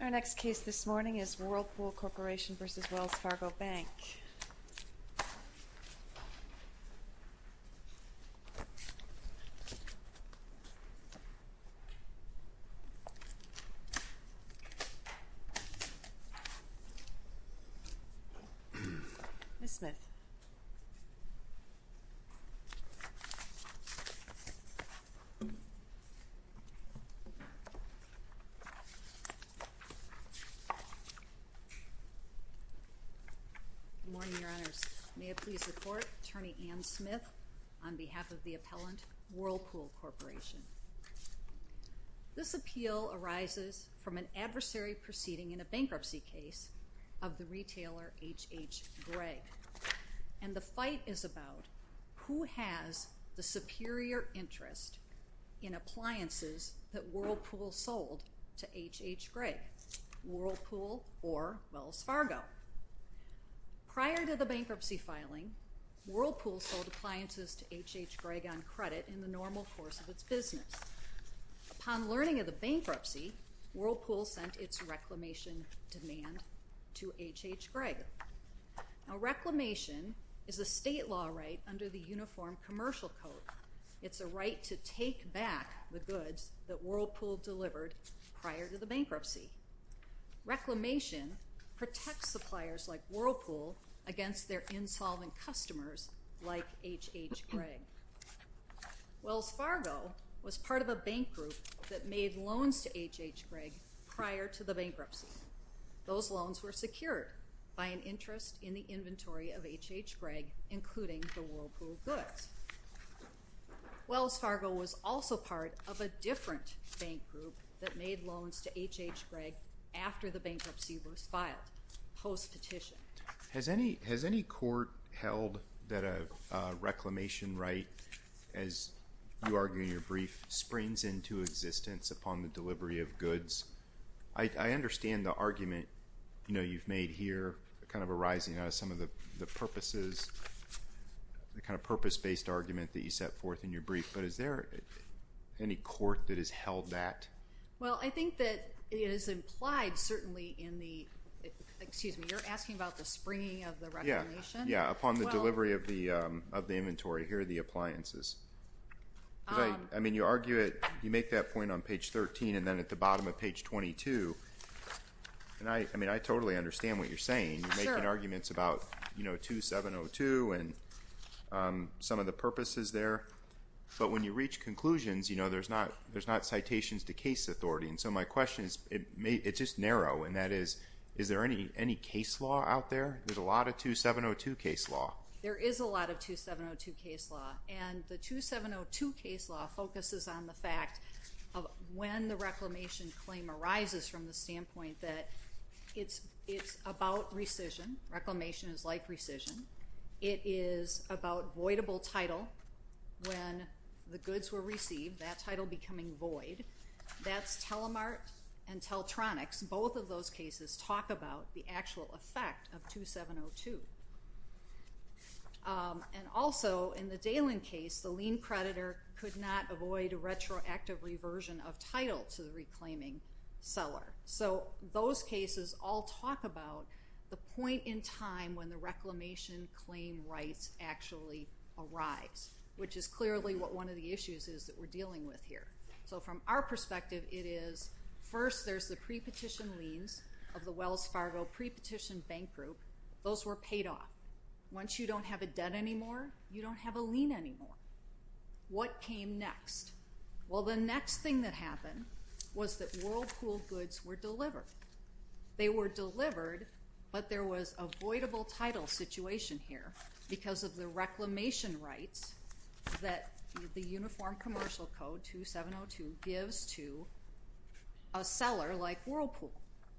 Our next case this morning is Whirlpool Corporation v. Wells Fargo Bank. We will now look at the case of Whirlpool Corporation v. Wells Fargo Bank. Good morning, Your Honors. May it please the Court, Attorney Ann Smith on behalf of the appellant Whirlpool Corporation. This appeal arises from an adversary proceeding in a bankruptcy case of the retailer H.H. Gregg. And the fight is about who has the superior interest in appliances that Whirlpool sold to H.H. Gregg, Whirlpool or Wells Fargo. Prior to the bankruptcy filing, Whirlpool sold appliances to H.H. Gregg on credit in the normal course of its business. Upon learning of the bankruptcy, Whirlpool sent its reclamation demand to H.H. Gregg. Now, reclamation is a state law right under the Uniform Commercial Code. It's a right to take back the goods that Whirlpool delivered prior to the bankruptcy. Reclamation protects suppliers like Whirlpool against their insolvent customers like H.H. Gregg. Wells Fargo was part of a bank group that made loans to H.H. Gregg prior to the bankruptcy. Those loans were secured by an interest in the inventory of H.H. Gregg, including the Whirlpool goods. Wells Fargo was also part of a different bank group that made loans to H.H. Gregg after the bankruptcy was filed, post-petition. Has any court held that a reclamation right, as you argue in your brief, springs into existence upon the delivery of goods? I understand the argument you've made here, kind of arising out of some of the purposes, the kind of purpose-based argument that you set forth in your brief, but is there any court that has held that? Well, I think that it is implied certainly in the, excuse me, you're asking about the springing of the reclamation? Yeah, upon the delivery of the inventory. Here are the appliances. I mean, you argue it, you make that point on page 13 and then at the bottom of page 22, and I totally understand what you're saying. You're making arguments about 2702 and some of the purposes there. But when you reach conclusions, there's not citations to case authority, and so my question is, it's just narrow, and that is, is there any case law out there? There's a lot of 2702 case law. There is a lot of 2702 case law, and the 2702 case law focuses on the fact of when the reclamation claim arises from the standpoint that it's about rescission, reclamation is like rescission. It is about voidable title when the goods were received, that title becoming void. That's Telemart and Teltronics. Both of those cases talk about the actual effect of 2702. And also, in the Dalen case, the lien creditor could not avoid a retroactive reversion of title to the reclaiming seller. So those cases all talk about the point in time when the reclamation claim rights actually arise, which is clearly what one of the issues is that we're dealing with here. So from our perspective, it is first there's the pre-petition liens of the Wells Fargo pre-petition bank group. Those were paid off. Once you don't have a debt anymore, you don't have a lien anymore. What came next? Well, the next thing that happened was that Whirlpool goods were delivered. They were delivered, but there was a voidable title situation here because of the reclamation rights that the Uniform Commercial Code 2702 gives to a seller like Whirlpool.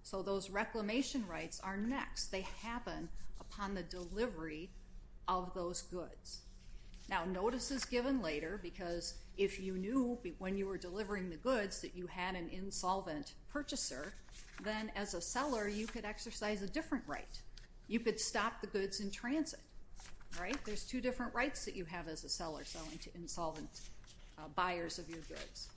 So those reclamation rights are next. They happen upon the delivery of those goods. Now, notice is given later because if you knew when you were delivering the goods that you had an insolvent purchaser, then as a seller, you could exercise a different right. You could stop the goods in transit. There's two different rights that you have as a seller selling to insolvent buyers of your goods.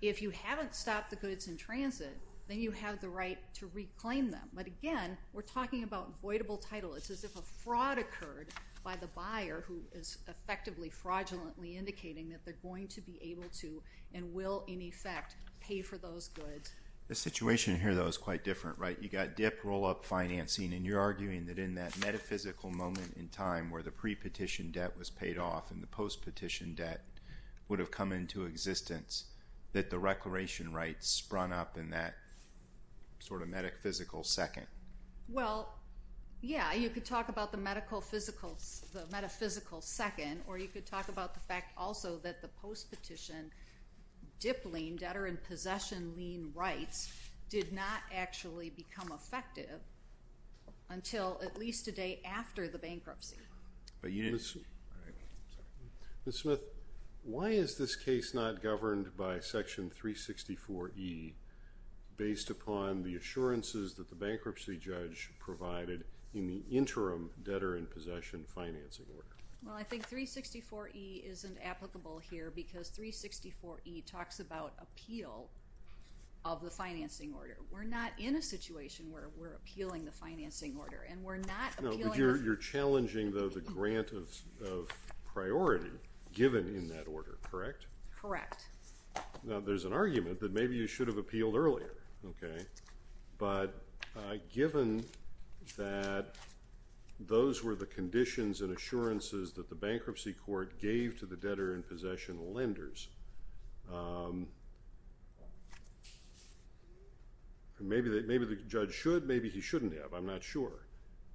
If you haven't stopped the goods in transit, then you have the right to reclaim them. But again, we're talking about voidable title. It's as if a fraud occurred by the buyer who is effectively fraudulently indicating that they're going to be able to and will, in effect, pay for those goods. The situation here, though, is quite different. You've got dip, roll-up financing, and you're arguing that in that metaphysical moment in time where the pre-petition debt was paid off and the post-petition debt would have come into existence, that the reclamation rights sprung up in that sort of metaphysical second. Well, yeah, you could talk about the metaphysical second, or you could talk about the fact also that the post-petition dip lien, debtor-in-possession lien rights, did not actually become effective until at least a day after the bankruptcy. Ms. Smith, why is this case not governed by Section 364E, based upon the assurances that the bankruptcy judge provided in the interim debtor-in-possession financing order? Well, I think 364E isn't applicable here because 364E talks about appeal of the financing order. We're not in a situation where we're appealing the financing order, and we're not appealing... No, but you're challenging, though, the grant of priority given in that order, correct? Correct. Now, there's an argument that maybe you should have appealed earlier, okay? But given that those were the conditions and assurances that the bankruptcy court gave to the debtor-in-possession lenders, maybe the judge should, maybe he shouldn't have, I'm not sure.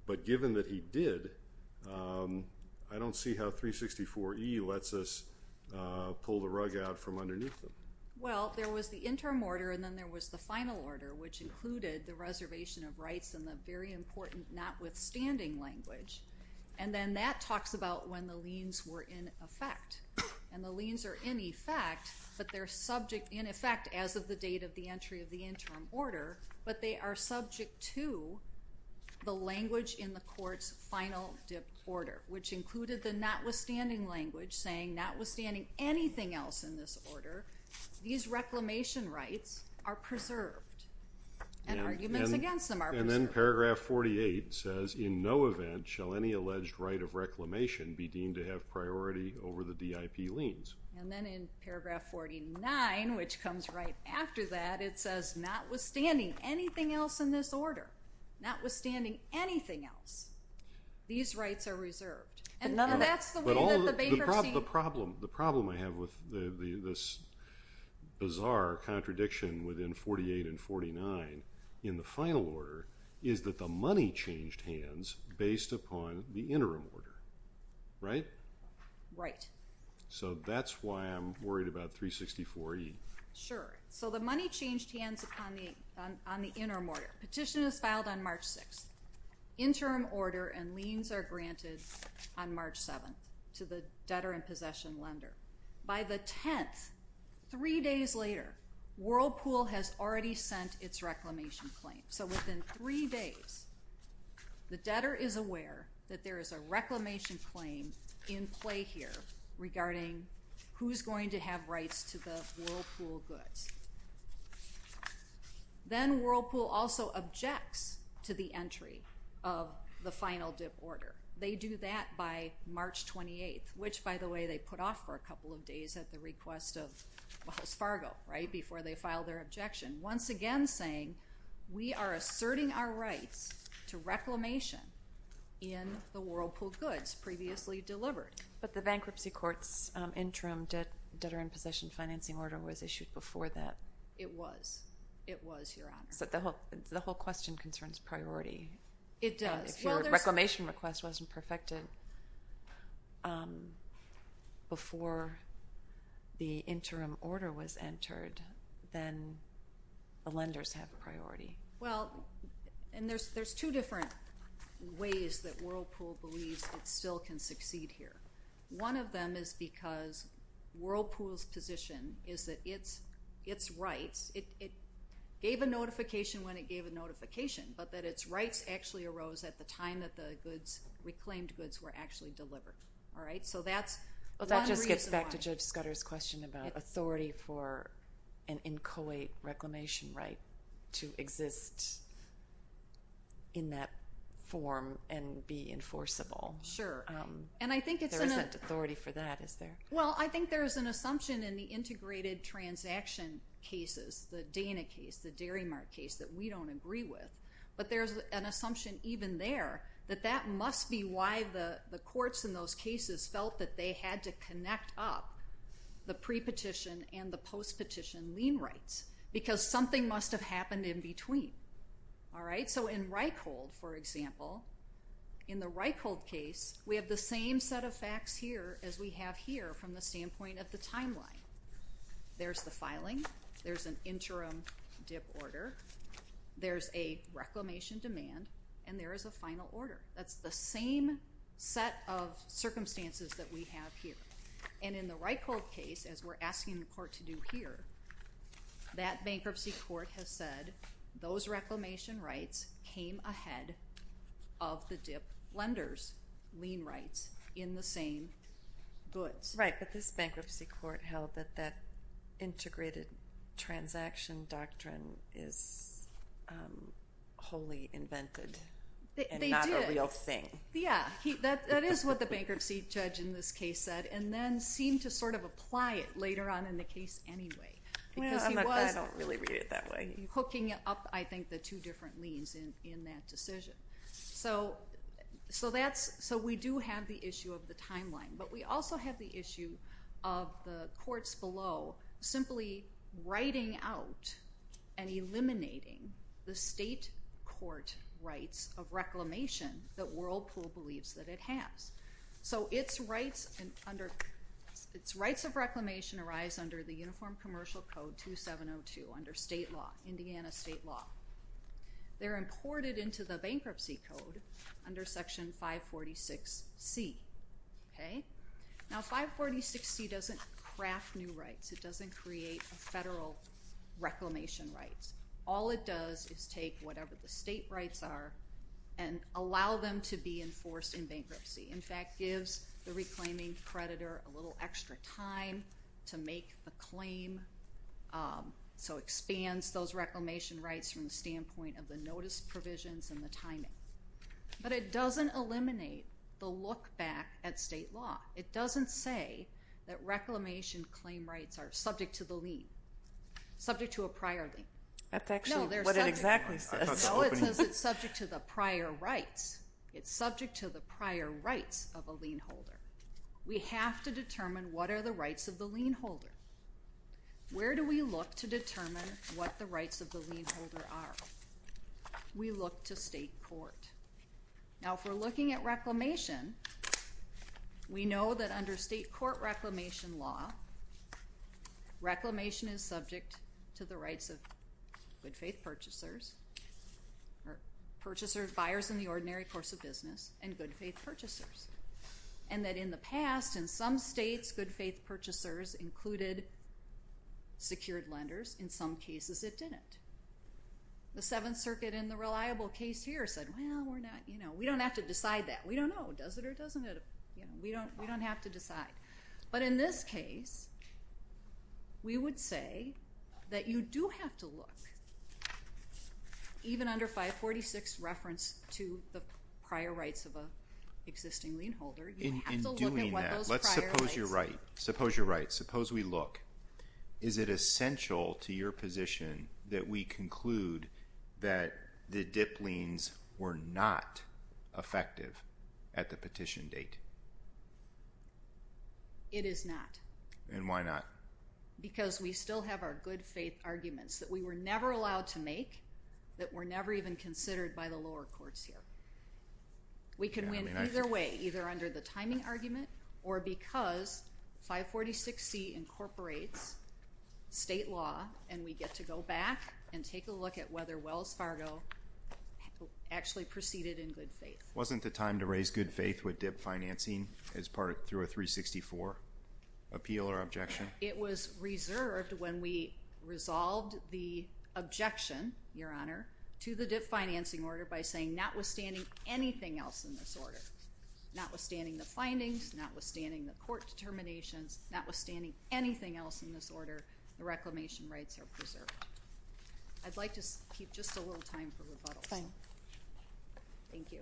But given that he did, I don't see how 364E lets us pull the rug out from underneath him. Well, there was the interim order, and then there was the final order, which included the reservation of rights and the very important notwithstanding language. And then that talks about when the liens were in effect. And the liens are in effect, but they're subject in effect as of the date of the entry of the interim order, but they are subject to the language in the court's final order, which included the notwithstanding language saying notwithstanding anything else in this order, these reclamation rights are preserved. And arguments against them are preserved. And then paragraph 48 says, And then in paragraph 49, which comes right after that, it says, notwithstanding anything else in this order, notwithstanding anything else, these rights are reserved. And that's the way that the bankruptcy… The problem I have with this bizarre contradiction within 48 and 49 in the final order is that the money changed hands based upon the interim order, right? Right. So that's why I'm worried about 364E. Sure. So the money changed hands on the interim order. Petition is filed on March 6th. Interim order and liens are granted on March 7th to the debtor and possession lender. By the 10th, three days later, Whirlpool has already sent its reclamation claim. So within three days, the debtor is aware that there is a reclamation claim in play here regarding who's going to have rights to the Whirlpool goods. Then Whirlpool also objects to the entry of the final dip order. They do that by March 28th, which, by the way, they put off for a couple of days at the request of Wells Fargo, right, before they filed their objection, once again saying, we are asserting our rights to reclamation in the Whirlpool goods previously delivered. But the bankruptcy court's interim debtor and possession financing order was issued before that. It was. It was, Your Honor. So the whole question concerns priority. It does. If your reclamation request wasn't perfected before the interim order was entered, then the lenders have priority. Well, and there's two different ways that Whirlpool believes it still can succeed here. One of them is because Whirlpool's position is that its rights, it gave a notification when it gave a notification, but that its rights actually arose at the time that the reclaimed goods were actually delivered. All right? So that's one reason why. about authority for an inchoate reclamation right to exist in that form and be enforceable. Sure. There isn't authority for that, is there? Well, I think there is an assumption in the integrated transaction cases, the Dana case, the Dairy Mart case, that we don't agree with, but there's an assumption even there that that must be why the courts in those cases felt that they had to connect up the pre-petition and the post-petition lien rights, because something must have happened in between. All right? So in Reichhold, for example, in the Reichhold case, we have the same set of facts here as we have here from the standpoint of the timeline. There's the filing. There's an interim dip order. There's a reclamation demand. And there is a final order. That's the same set of circumstances that we have here. And in the Reichhold case, as we're asking the court to do here, that bankruptcy court has said those reclamation rights came ahead of the dip lenders' lien rights in the same goods. Right, but this bankruptcy court held that that integrated transaction doctrine is wholly invented. They did. Yeah, that is what the bankruptcy judge in this case said and then seemed to sort of apply it later on in the case anyway. Well, I don't really read it that way. He was hooking up, I think, the two different liens in that decision. So we do have the issue of the timeline, but we also have the issue of the courts below simply writing out and eliminating the state court rights of reclamation that Whirlpool believes that it has. So its rights of reclamation arise under the Uniform Commercial Code 2702, under state law, Indiana state law. They're imported into the bankruptcy code under Section 546C. Now, 546C doesn't craft new rights. It doesn't create a federal reclamation rights. All it does is take whatever the state rights are and allow them to be enforced in bankruptcy. In fact, it gives the reclaiming creditor a little extra time to make the claim, so it expands those reclamation rights from the standpoint of the notice provisions and the timing. But it doesn't eliminate the look back at state law. It doesn't say that reclamation claim rights are subject to the lien, subject to a prior lien. That's actually what it exactly says. No, it says it's subject to the prior rights. It's subject to the prior rights of a lien holder. We have to determine what are the rights of the lien holder. Where do we look to determine what the rights of the lien holder are? We look to state court. Now, if we're looking at reclamation, we know that under state court reclamation law, reclamation is subject to the rights of good faith purchasers, or purchasers, buyers in the ordinary course of business, and good faith purchasers. And that in the past, in some states, good faith purchasers included secured lenders. In some cases, it didn't. The Seventh Circuit in the reliable case here said, well, we're not, you know, we don't have to decide that. We don't know, does it or doesn't it? We don't have to decide. But in this case, we would say that you do have to look, even under 546 reference to the prior rights of an existing lien holder, you have to look at what those prior rights are. That's right. Suppose you're right. Suppose we look. Is it essential to your position that we conclude that the dip liens were not effective at the petition date? It is not. And why not? Because we still have our good faith arguments that we were never allowed to make, that were never even considered by the lower courts here. We can win either way, either under the timing argument, or because 546C incorporates state law, and we get to go back and take a look at whether Wells Fargo actually proceeded in good faith. Wasn't the time to raise good faith with dip financing as part of a 364 appeal or objection? It was reserved when we resolved the objection, Your Honor, to the dip financing order by saying notwithstanding anything else in this order, notwithstanding the findings, notwithstanding the court determinations, notwithstanding anything else in this order, the reclamation rights are preserved. I'd like to keep just a little time for rebuttal. Thank you.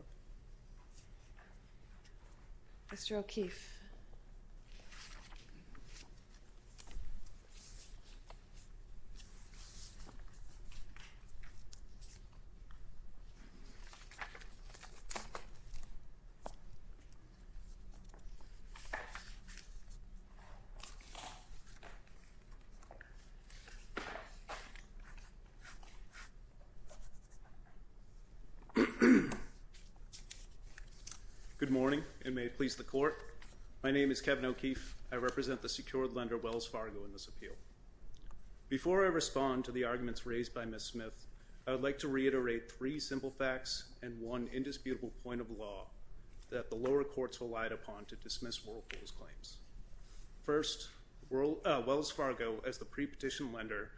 Mr. O'Keefe. Thank you. Good morning, and may it please the court. My name is Kevin O'Keefe. I represent the secured lender Wells Fargo in this appeal. Before I respond to the arguments raised by Ms. Smith, I would like to reiterate three simple facts and one indisputable point of law that the lower courts relied upon to dismiss Whirlpool's claims. First, Wells Fargo, as the pre-petition lender,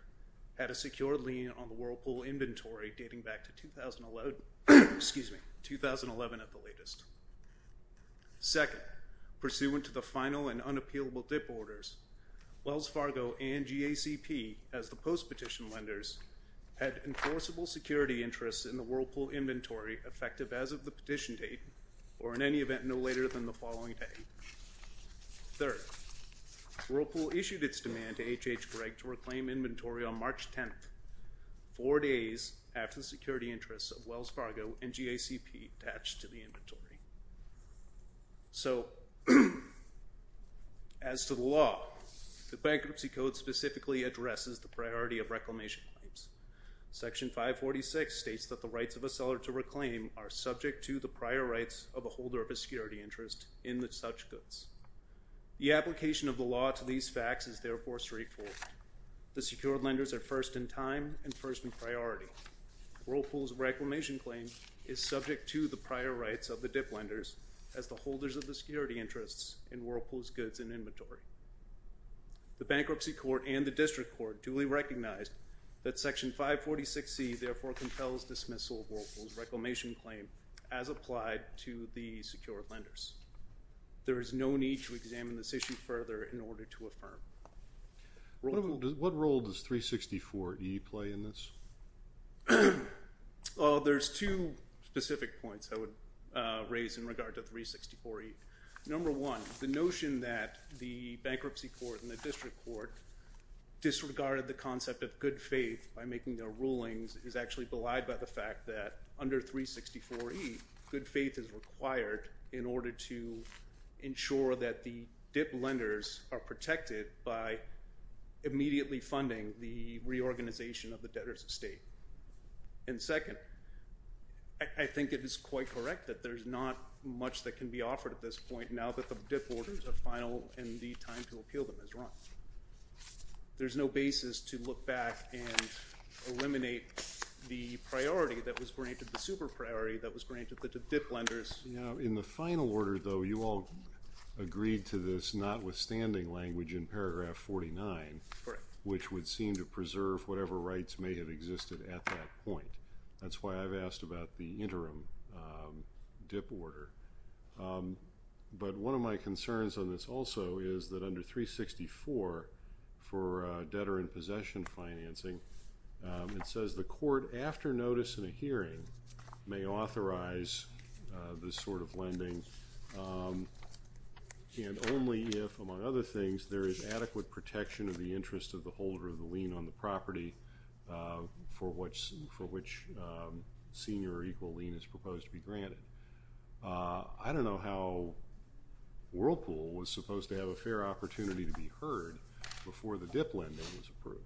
had a secure lien on the Whirlpool inventory dating back to 2011 at the latest. Second, pursuant to the final and unappealable dip orders, Wells Fargo and GACP, as the post-petition lenders, had enforceable security interests in the Whirlpool inventory effective as of the petition date or in any event no later than the following day. Third, Whirlpool issued its demand to HH Gregg to reclaim inventory on March 10th, four days after the security interests of Wells Fargo and GACP attached to the inventory. So as to the law, the Bankruptcy Code specifically addresses the priority of reclamation claims. Section 546 states that the rights of a seller to reclaim are subject to the prior rights of a holder of a security interest in such goods. The application of the law to these facts is therefore straightforward. The secured lenders are first in time and first in priority. Whirlpool's reclamation claim is subject to the prior rights of the dip lenders as the holders of the security interests in Whirlpool's goods and inventory. The Bankruptcy Court and the District Court duly recognize that Section 546C therefore compels dismissal of Whirlpool's reclamation claim as applied to the secured lenders. There is no need to examine this issue further in order to affirm. What role does 364E play in this? There's two specific points I would raise in regard to 364E. Number one, the notion that the Bankruptcy Court and the District Court disregarded the concept of good faith by making their rulings is actually belied by the fact that under 364E, good faith is required in order to ensure that the dip lenders are protected by immediately funding the reorganization of the debtors' estate. And second, I think it is quite correct that there's not much that can be offered at this point now that the dip orders are final and the time to appeal them has run. There's no basis to look back and eliminate the priority that was granted, the super priority that was granted to dip lenders. In the final order, though, you all agreed to this notwithstanding language in paragraph 49, which would seem to preserve whatever rights may have existed at that point. That's why I've asked about the interim dip order. But one of my concerns on this also is that under 364 for debtor in possession financing, it says the court after notice in a hearing may authorize this sort of lending and only if, among other things, there is adequate protection of the interest of the holder of the lien on the property for which senior or equal lien is proposed to be granted. I don't know how Whirlpool was supposed to have a fair opportunity to be heard before the dip lending was approved.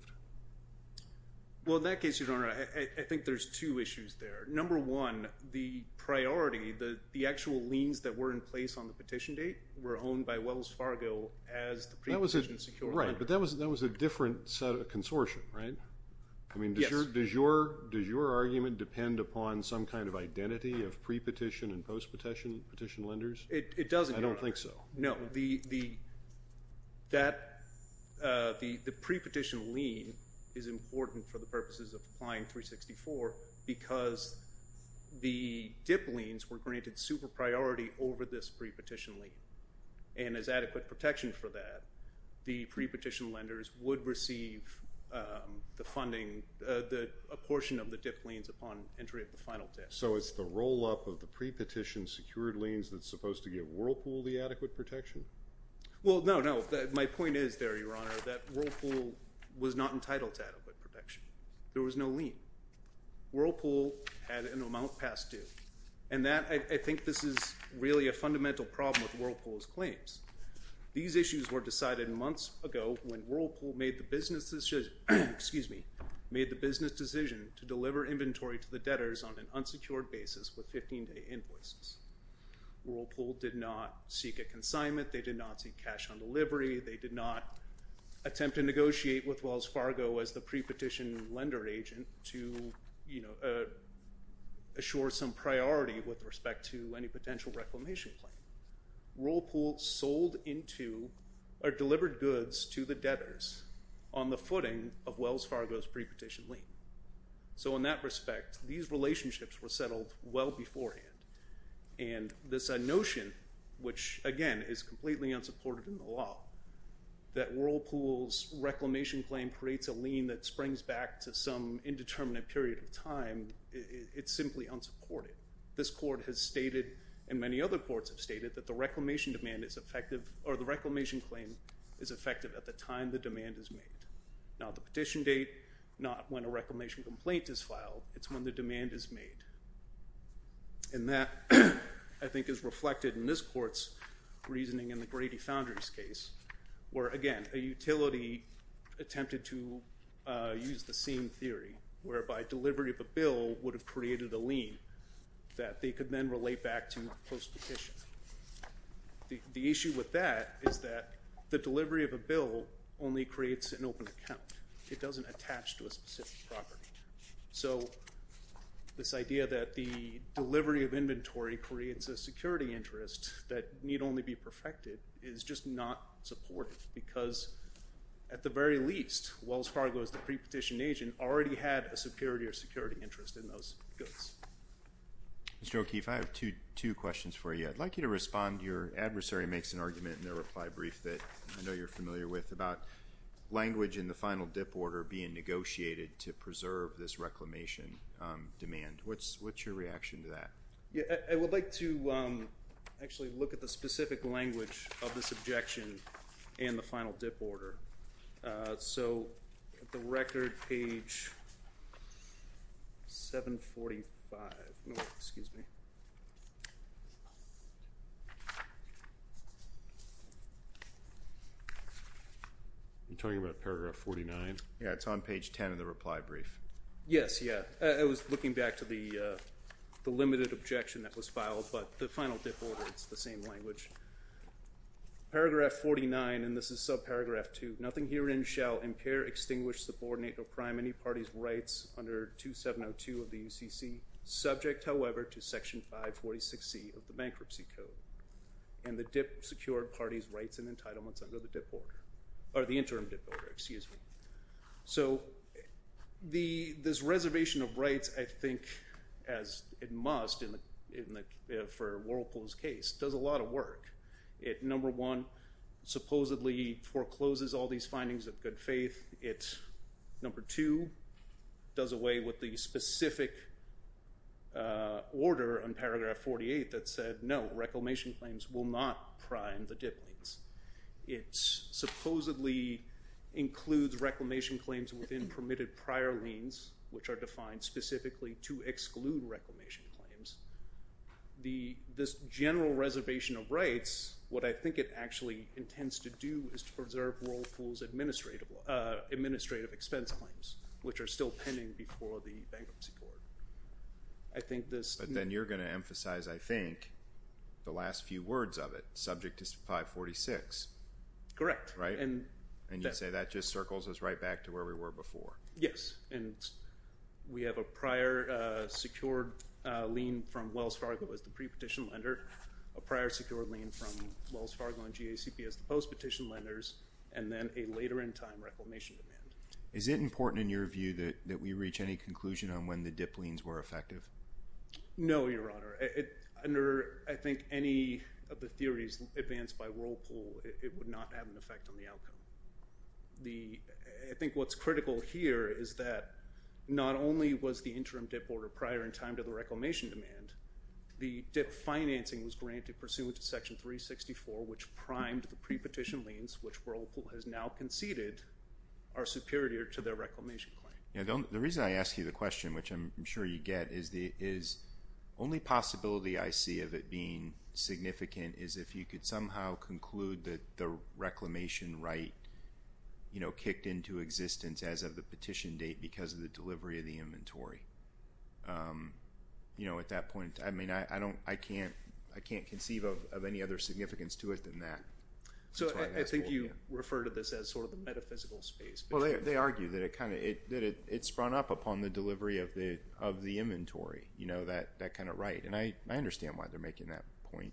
Well, in that case, Your Honor, I think there's two issues there. Number one, the priority, the actual liens that were in place on the petition date were owned by Wells Fargo as the pre-petition secure lender. Right, but that was a different set of consortium, right? I mean, does your argument depend upon some kind of identity of pre-petition and post-petition lenders? It doesn't, Your Honor. I don't think so. No, the pre-petition lien is important for the purposes of applying 364 because the dip liens were granted super priority over this pre-petition lien, and as adequate protection for that, the pre-petition lenders would receive the funding, a portion of the dip liens upon entry of the final dip. So it's the roll-up of the pre-petition secured liens that's supposed to give Whirlpool the adequate protection? Well, no, no. My point is there, Your Honor, that Whirlpool was not entitled to adequate protection. There was no lien. Whirlpool had an amount passed due, and I think this is really a fundamental problem with Whirlpool's claims. These issues were decided months ago when Whirlpool made the business decision to deliver inventory to the debtors on an unsecured basis with 15-day invoices. Whirlpool did not seek a consignment. They did not seek cash on delivery. They did not attempt to negotiate with Wells Fargo as the pre-petition lender agent to assure some priority with respect to any potential reclamation claim. Whirlpool sold into or delivered goods to the debtors on the footing of Wells Fargo's pre-petition lien. So in that respect, these relationships were settled well beforehand. And this notion, which, again, is completely unsupported in the law, that Whirlpool's reclamation claim creates a lien that springs back to some indeterminate period of time, it's simply unsupported. This court has stated, and many other courts have stated, that the reclamation demand is effective or the reclamation claim is effective at the time the demand is made. Not the petition date, not when a reclamation complaint is filed. It's when the demand is made. And that, I think, is reflected in this court's reasoning in the Grady Foundry's case where, again, a utility attempted to use the same theory whereby delivery of a bill would have created a lien that they could then relate back to post-petition. The issue with that is that the delivery of a bill only creates an open account. It doesn't attach to a specific property. So this idea that the delivery of inventory creates a security interest that need only be perfected is just not supportive because, at the very least, Wells Fargo, as the pre-petition agent, already had a superiority or security interest in those goods. Mr. O'Keefe, I have two questions for you. I'd like you to respond to your adversary makes an argument in their reply brief that I know you're familiar with about language in the final dip order being negotiated to preserve this reclamation demand. What's your reaction to that? I would like to actually look at the specific language of this objection and the final dip order. So at the record, page 745. You're talking about paragraph 49? Yeah, it's on page 10 of the reply brief. Yes, yeah. I was looking back to the limited objection that was filed, but the final dip order, it's the same language. Paragraph 49, and this is subparagraph 2. Nothing herein shall impair, extinguish, subordinate, or prime any party's rights under 2702 of the UCC, subject, however, to Section 546C of the Bankruptcy Code and the dip secured party's rights and entitlements under the dip order or the interim dip order, excuse me. So this reservation of rights, I think, as it must for Whirlpool's case, does a lot of work. It, number one, supposedly forecloses all these findings of good faith. It, number two, does away with the specific order in paragraph 48 that said no, reclamation claims will not prime the dip liens. It supposedly includes reclamation claims within permitted prior liens, which are defined specifically to exclude reclamation claims. This general reservation of rights, what I think it actually intends to do is to preserve Whirlpool's administrative expense claims, which are still pending before the Bankruptcy Court. I think this... But then you're going to emphasize, I think, the last few words of it, subject to 546. Correct. And you say that just circles us right back to where we were before. Yes, and we have a prior secured lien from Wells Fargo as the pre-petition lender, a prior secured lien from Wells Fargo and GACP as the post-petition lenders, and then a later in time reclamation demand. Is it important in your view that we reach any conclusion on when the dip liens were effective? No, Your Honor. Under, I think, any of the theories advanced by Whirlpool, it would not have an effect on the outcome. I think what's critical here is that not only was the interim dip order prior in time to the reclamation demand, the dip financing was granted pursuant to Section 364, which primed the pre-petition liens, which Whirlpool has now conceded are superior to their reclamation claim. The reason I ask you the question, which I'm sure you get, is the only possibility I see of it being significant is if you could somehow conclude that the reclamation right kicked into existence as of the petition date because of the delivery of the inventory. At that point, I can't conceive of any other significance to it than that. I think you refer to this as sort of the metaphysical space. They argue that it sprung up upon the delivery of the inventory, that kind of right, and I understand why they're making that point.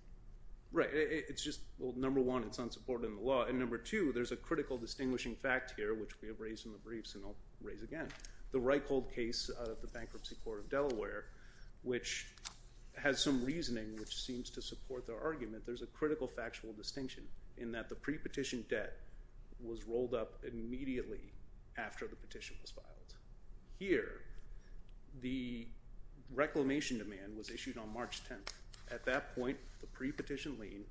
Right. It's just, well, number one, it's unsupported in the law, and number two, there's a critical distinguishing fact here, which we have raised in the briefs and I'll raise again. The Reichhold case of the Bankruptcy Court of Delaware, which has some reasoning which seems to support their argument, there's a critical factual distinction in that the pre-petition debt was rolled up immediately after the petition was filed. Here, the reclamation demand was issued on March 10th. At that point, the pre-petition lien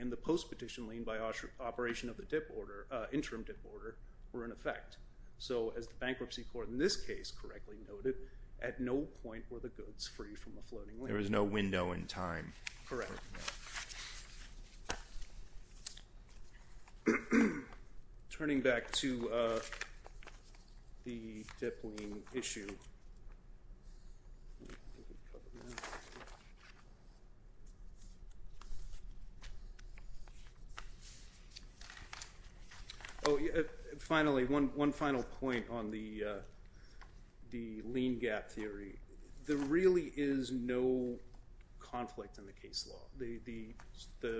and the post-petition lien by operation of the interim dip order were in effect. So as the Bankruptcy Court in this case correctly noted, at no point were the goods free from a floating lien. There was no window in time. Correct. All right. Turning back to the dip lien issue. Finally, one final point on the lien gap theory. There really is no conflict in the case law.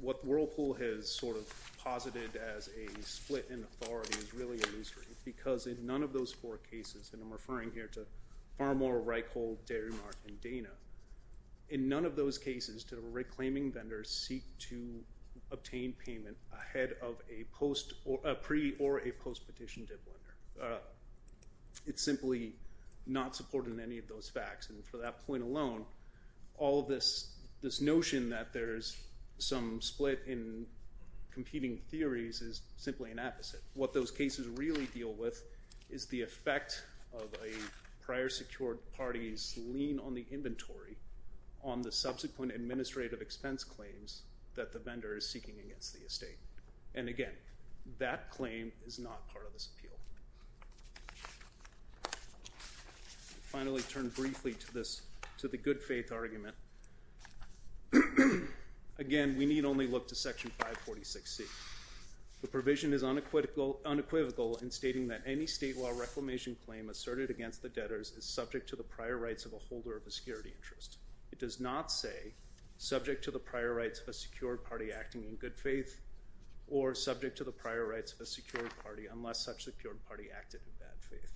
What Whirlpool has sort of posited as a split in authority is really illusory because in none of those four cases, and I'm referring here to Farmer, Reichhold, Dairy Mart, and Dana, in none of those cases did a reclaiming vendor seek to obtain payment ahead of a pre- or a post-petition dip lender. It's simply not supported in any of those facts. And for that point alone, all of this notion that there's some split in competing theories is simply an opposite. What those cases really deal with is the effect of a prior secured party's lien on the inventory on the subsequent administrative expense claims that the vendor is seeking against the estate. And again, that claim is not part of this appeal. Finally, turn briefly to the good faith argument. Again, we need only look to Section 546C. The provision is unequivocal in stating that any state law reclamation claim asserted against the debtors is subject to the prior rights of a holder of a security interest. It does not say subject to the prior rights of a secured party acting in good faith or subject to the prior rights of a secured party unless such secured party acted in bad faith.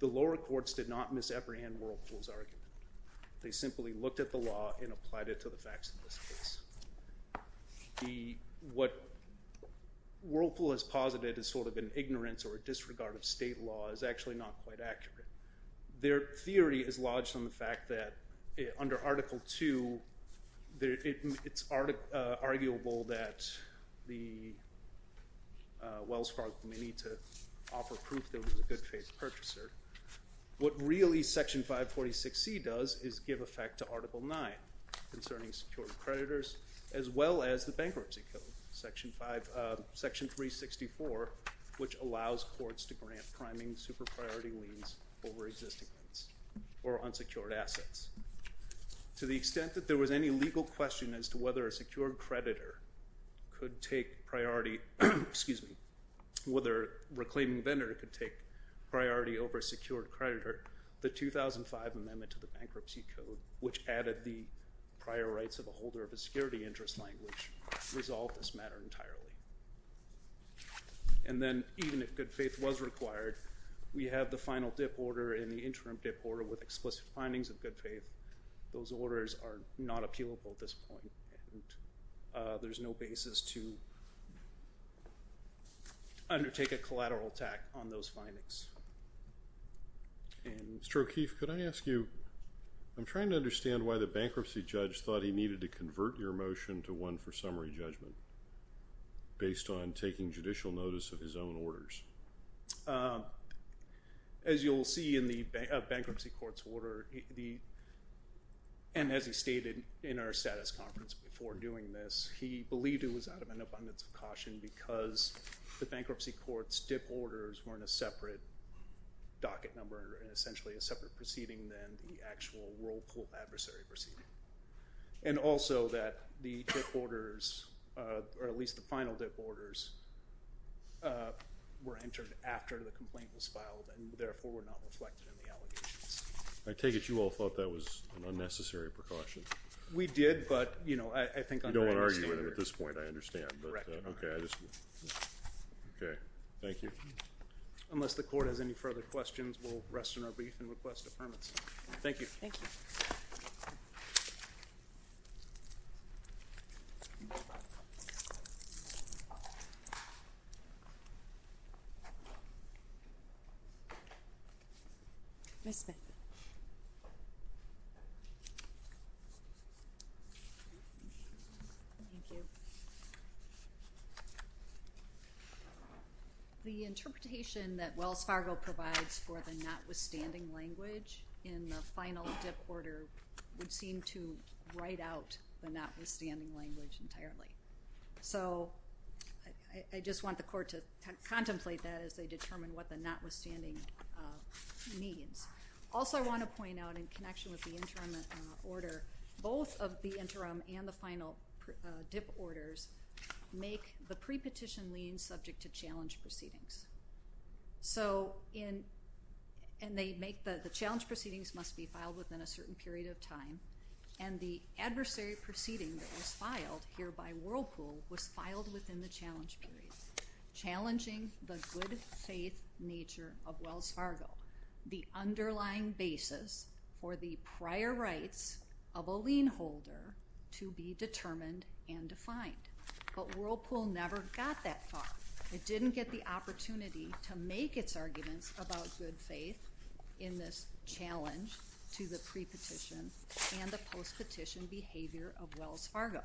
The lower courts did not misapprehend Whirlpool's argument. They simply looked at the law and applied it to the facts of this case. What Whirlpool has posited is sort of an ignorance or a disregard of state law is actually not quite accurate. Their theory is lodged on the fact that under Article 2, it's arguable that Wells Fargo may need to offer proof that it was a good faith purchaser. What really Section 546C does is give effect to Article 9 concerning secured creditors as well as the bankruptcy code, Section 364, which allows courts to grant priming super priority liens over existing ones or unsecured assets. To the extent that there was any legal question as to whether a secured creditor could take priority, excuse me, whether a reclaiming vendor could take priority over a secured creditor, the 2005 amendment to the bankruptcy code, which added the prior rights of a holder of a security interest language, resolved this matter entirely. And then even if good faith was required, we have the final dip order and the interim dip order with explicit findings of good faith. Those orders are not appealable at this point. There's no basis to undertake a collateral attack on those findings. Mr. O'Keefe, could I ask you, I'm trying to understand why the bankruptcy judge thought he needed to convert your motion to one for summary judgment based on taking judicial notice of his own orders. As you'll see in the bankruptcy court's order, and as he stated in our status conference before doing this, he believed it was out of an abundance of caution because the bankruptcy court's dip orders were in a separate docket number and essentially a separate proceeding than the actual whirlpool adversary proceeding. And also that the dip orders, or at least the final dip orders, were entered after the complaint was filed and therefore were not reflected in the allegations. I take it you all thought that was an unnecessary precaution. We did, but you know, I think I don't want to argue with him at this point. I understand. Okay. Okay. Thank you. Unless the court has any further questions, we'll rest in our brief and request the permits. Thank you. Thank you. Thank you. Ms. Smith. Thank you. The interpretation that Wells Fargo provides for the notwithstanding language in the final dip order would seem to write out the notwithstanding language entirely. So I just want the court to contemplate that as they determine what the notwithstanding means. Also I want to point out in connection with the interim order, both of the interim and the final dip orders make the pre-petition lien subject to challenge proceedings. And they make the challenge proceedings must be filed within a certain period of time. And the adversary proceeding that was filed here by Whirlpool was filed within the challenge period, challenging the good faith nature of Wells Fargo, the underlying basis for the prior rights of a lien holder to be determined and defined. But Whirlpool never got that far. It didn't get the opportunity to make its arguments about good faith in this challenge to the pre-petition and the post-petition behavior of Wells Fargo.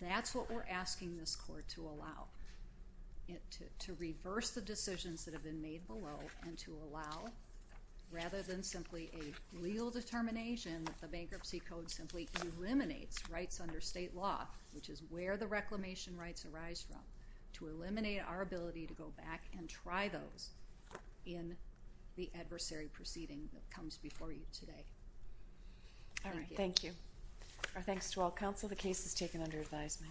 That's what we're asking this court to allow, to reverse the decisions that have been made below and to allow, rather than simply a legal determination that the bankruptcy code simply eliminates rights under state law, which is where the reclamation rights arise from, to eliminate our ability to go back and try those in the adversary proceeding that comes before you today. All right. Thank you. Our thanks to all counsel. The case is taken under advisement.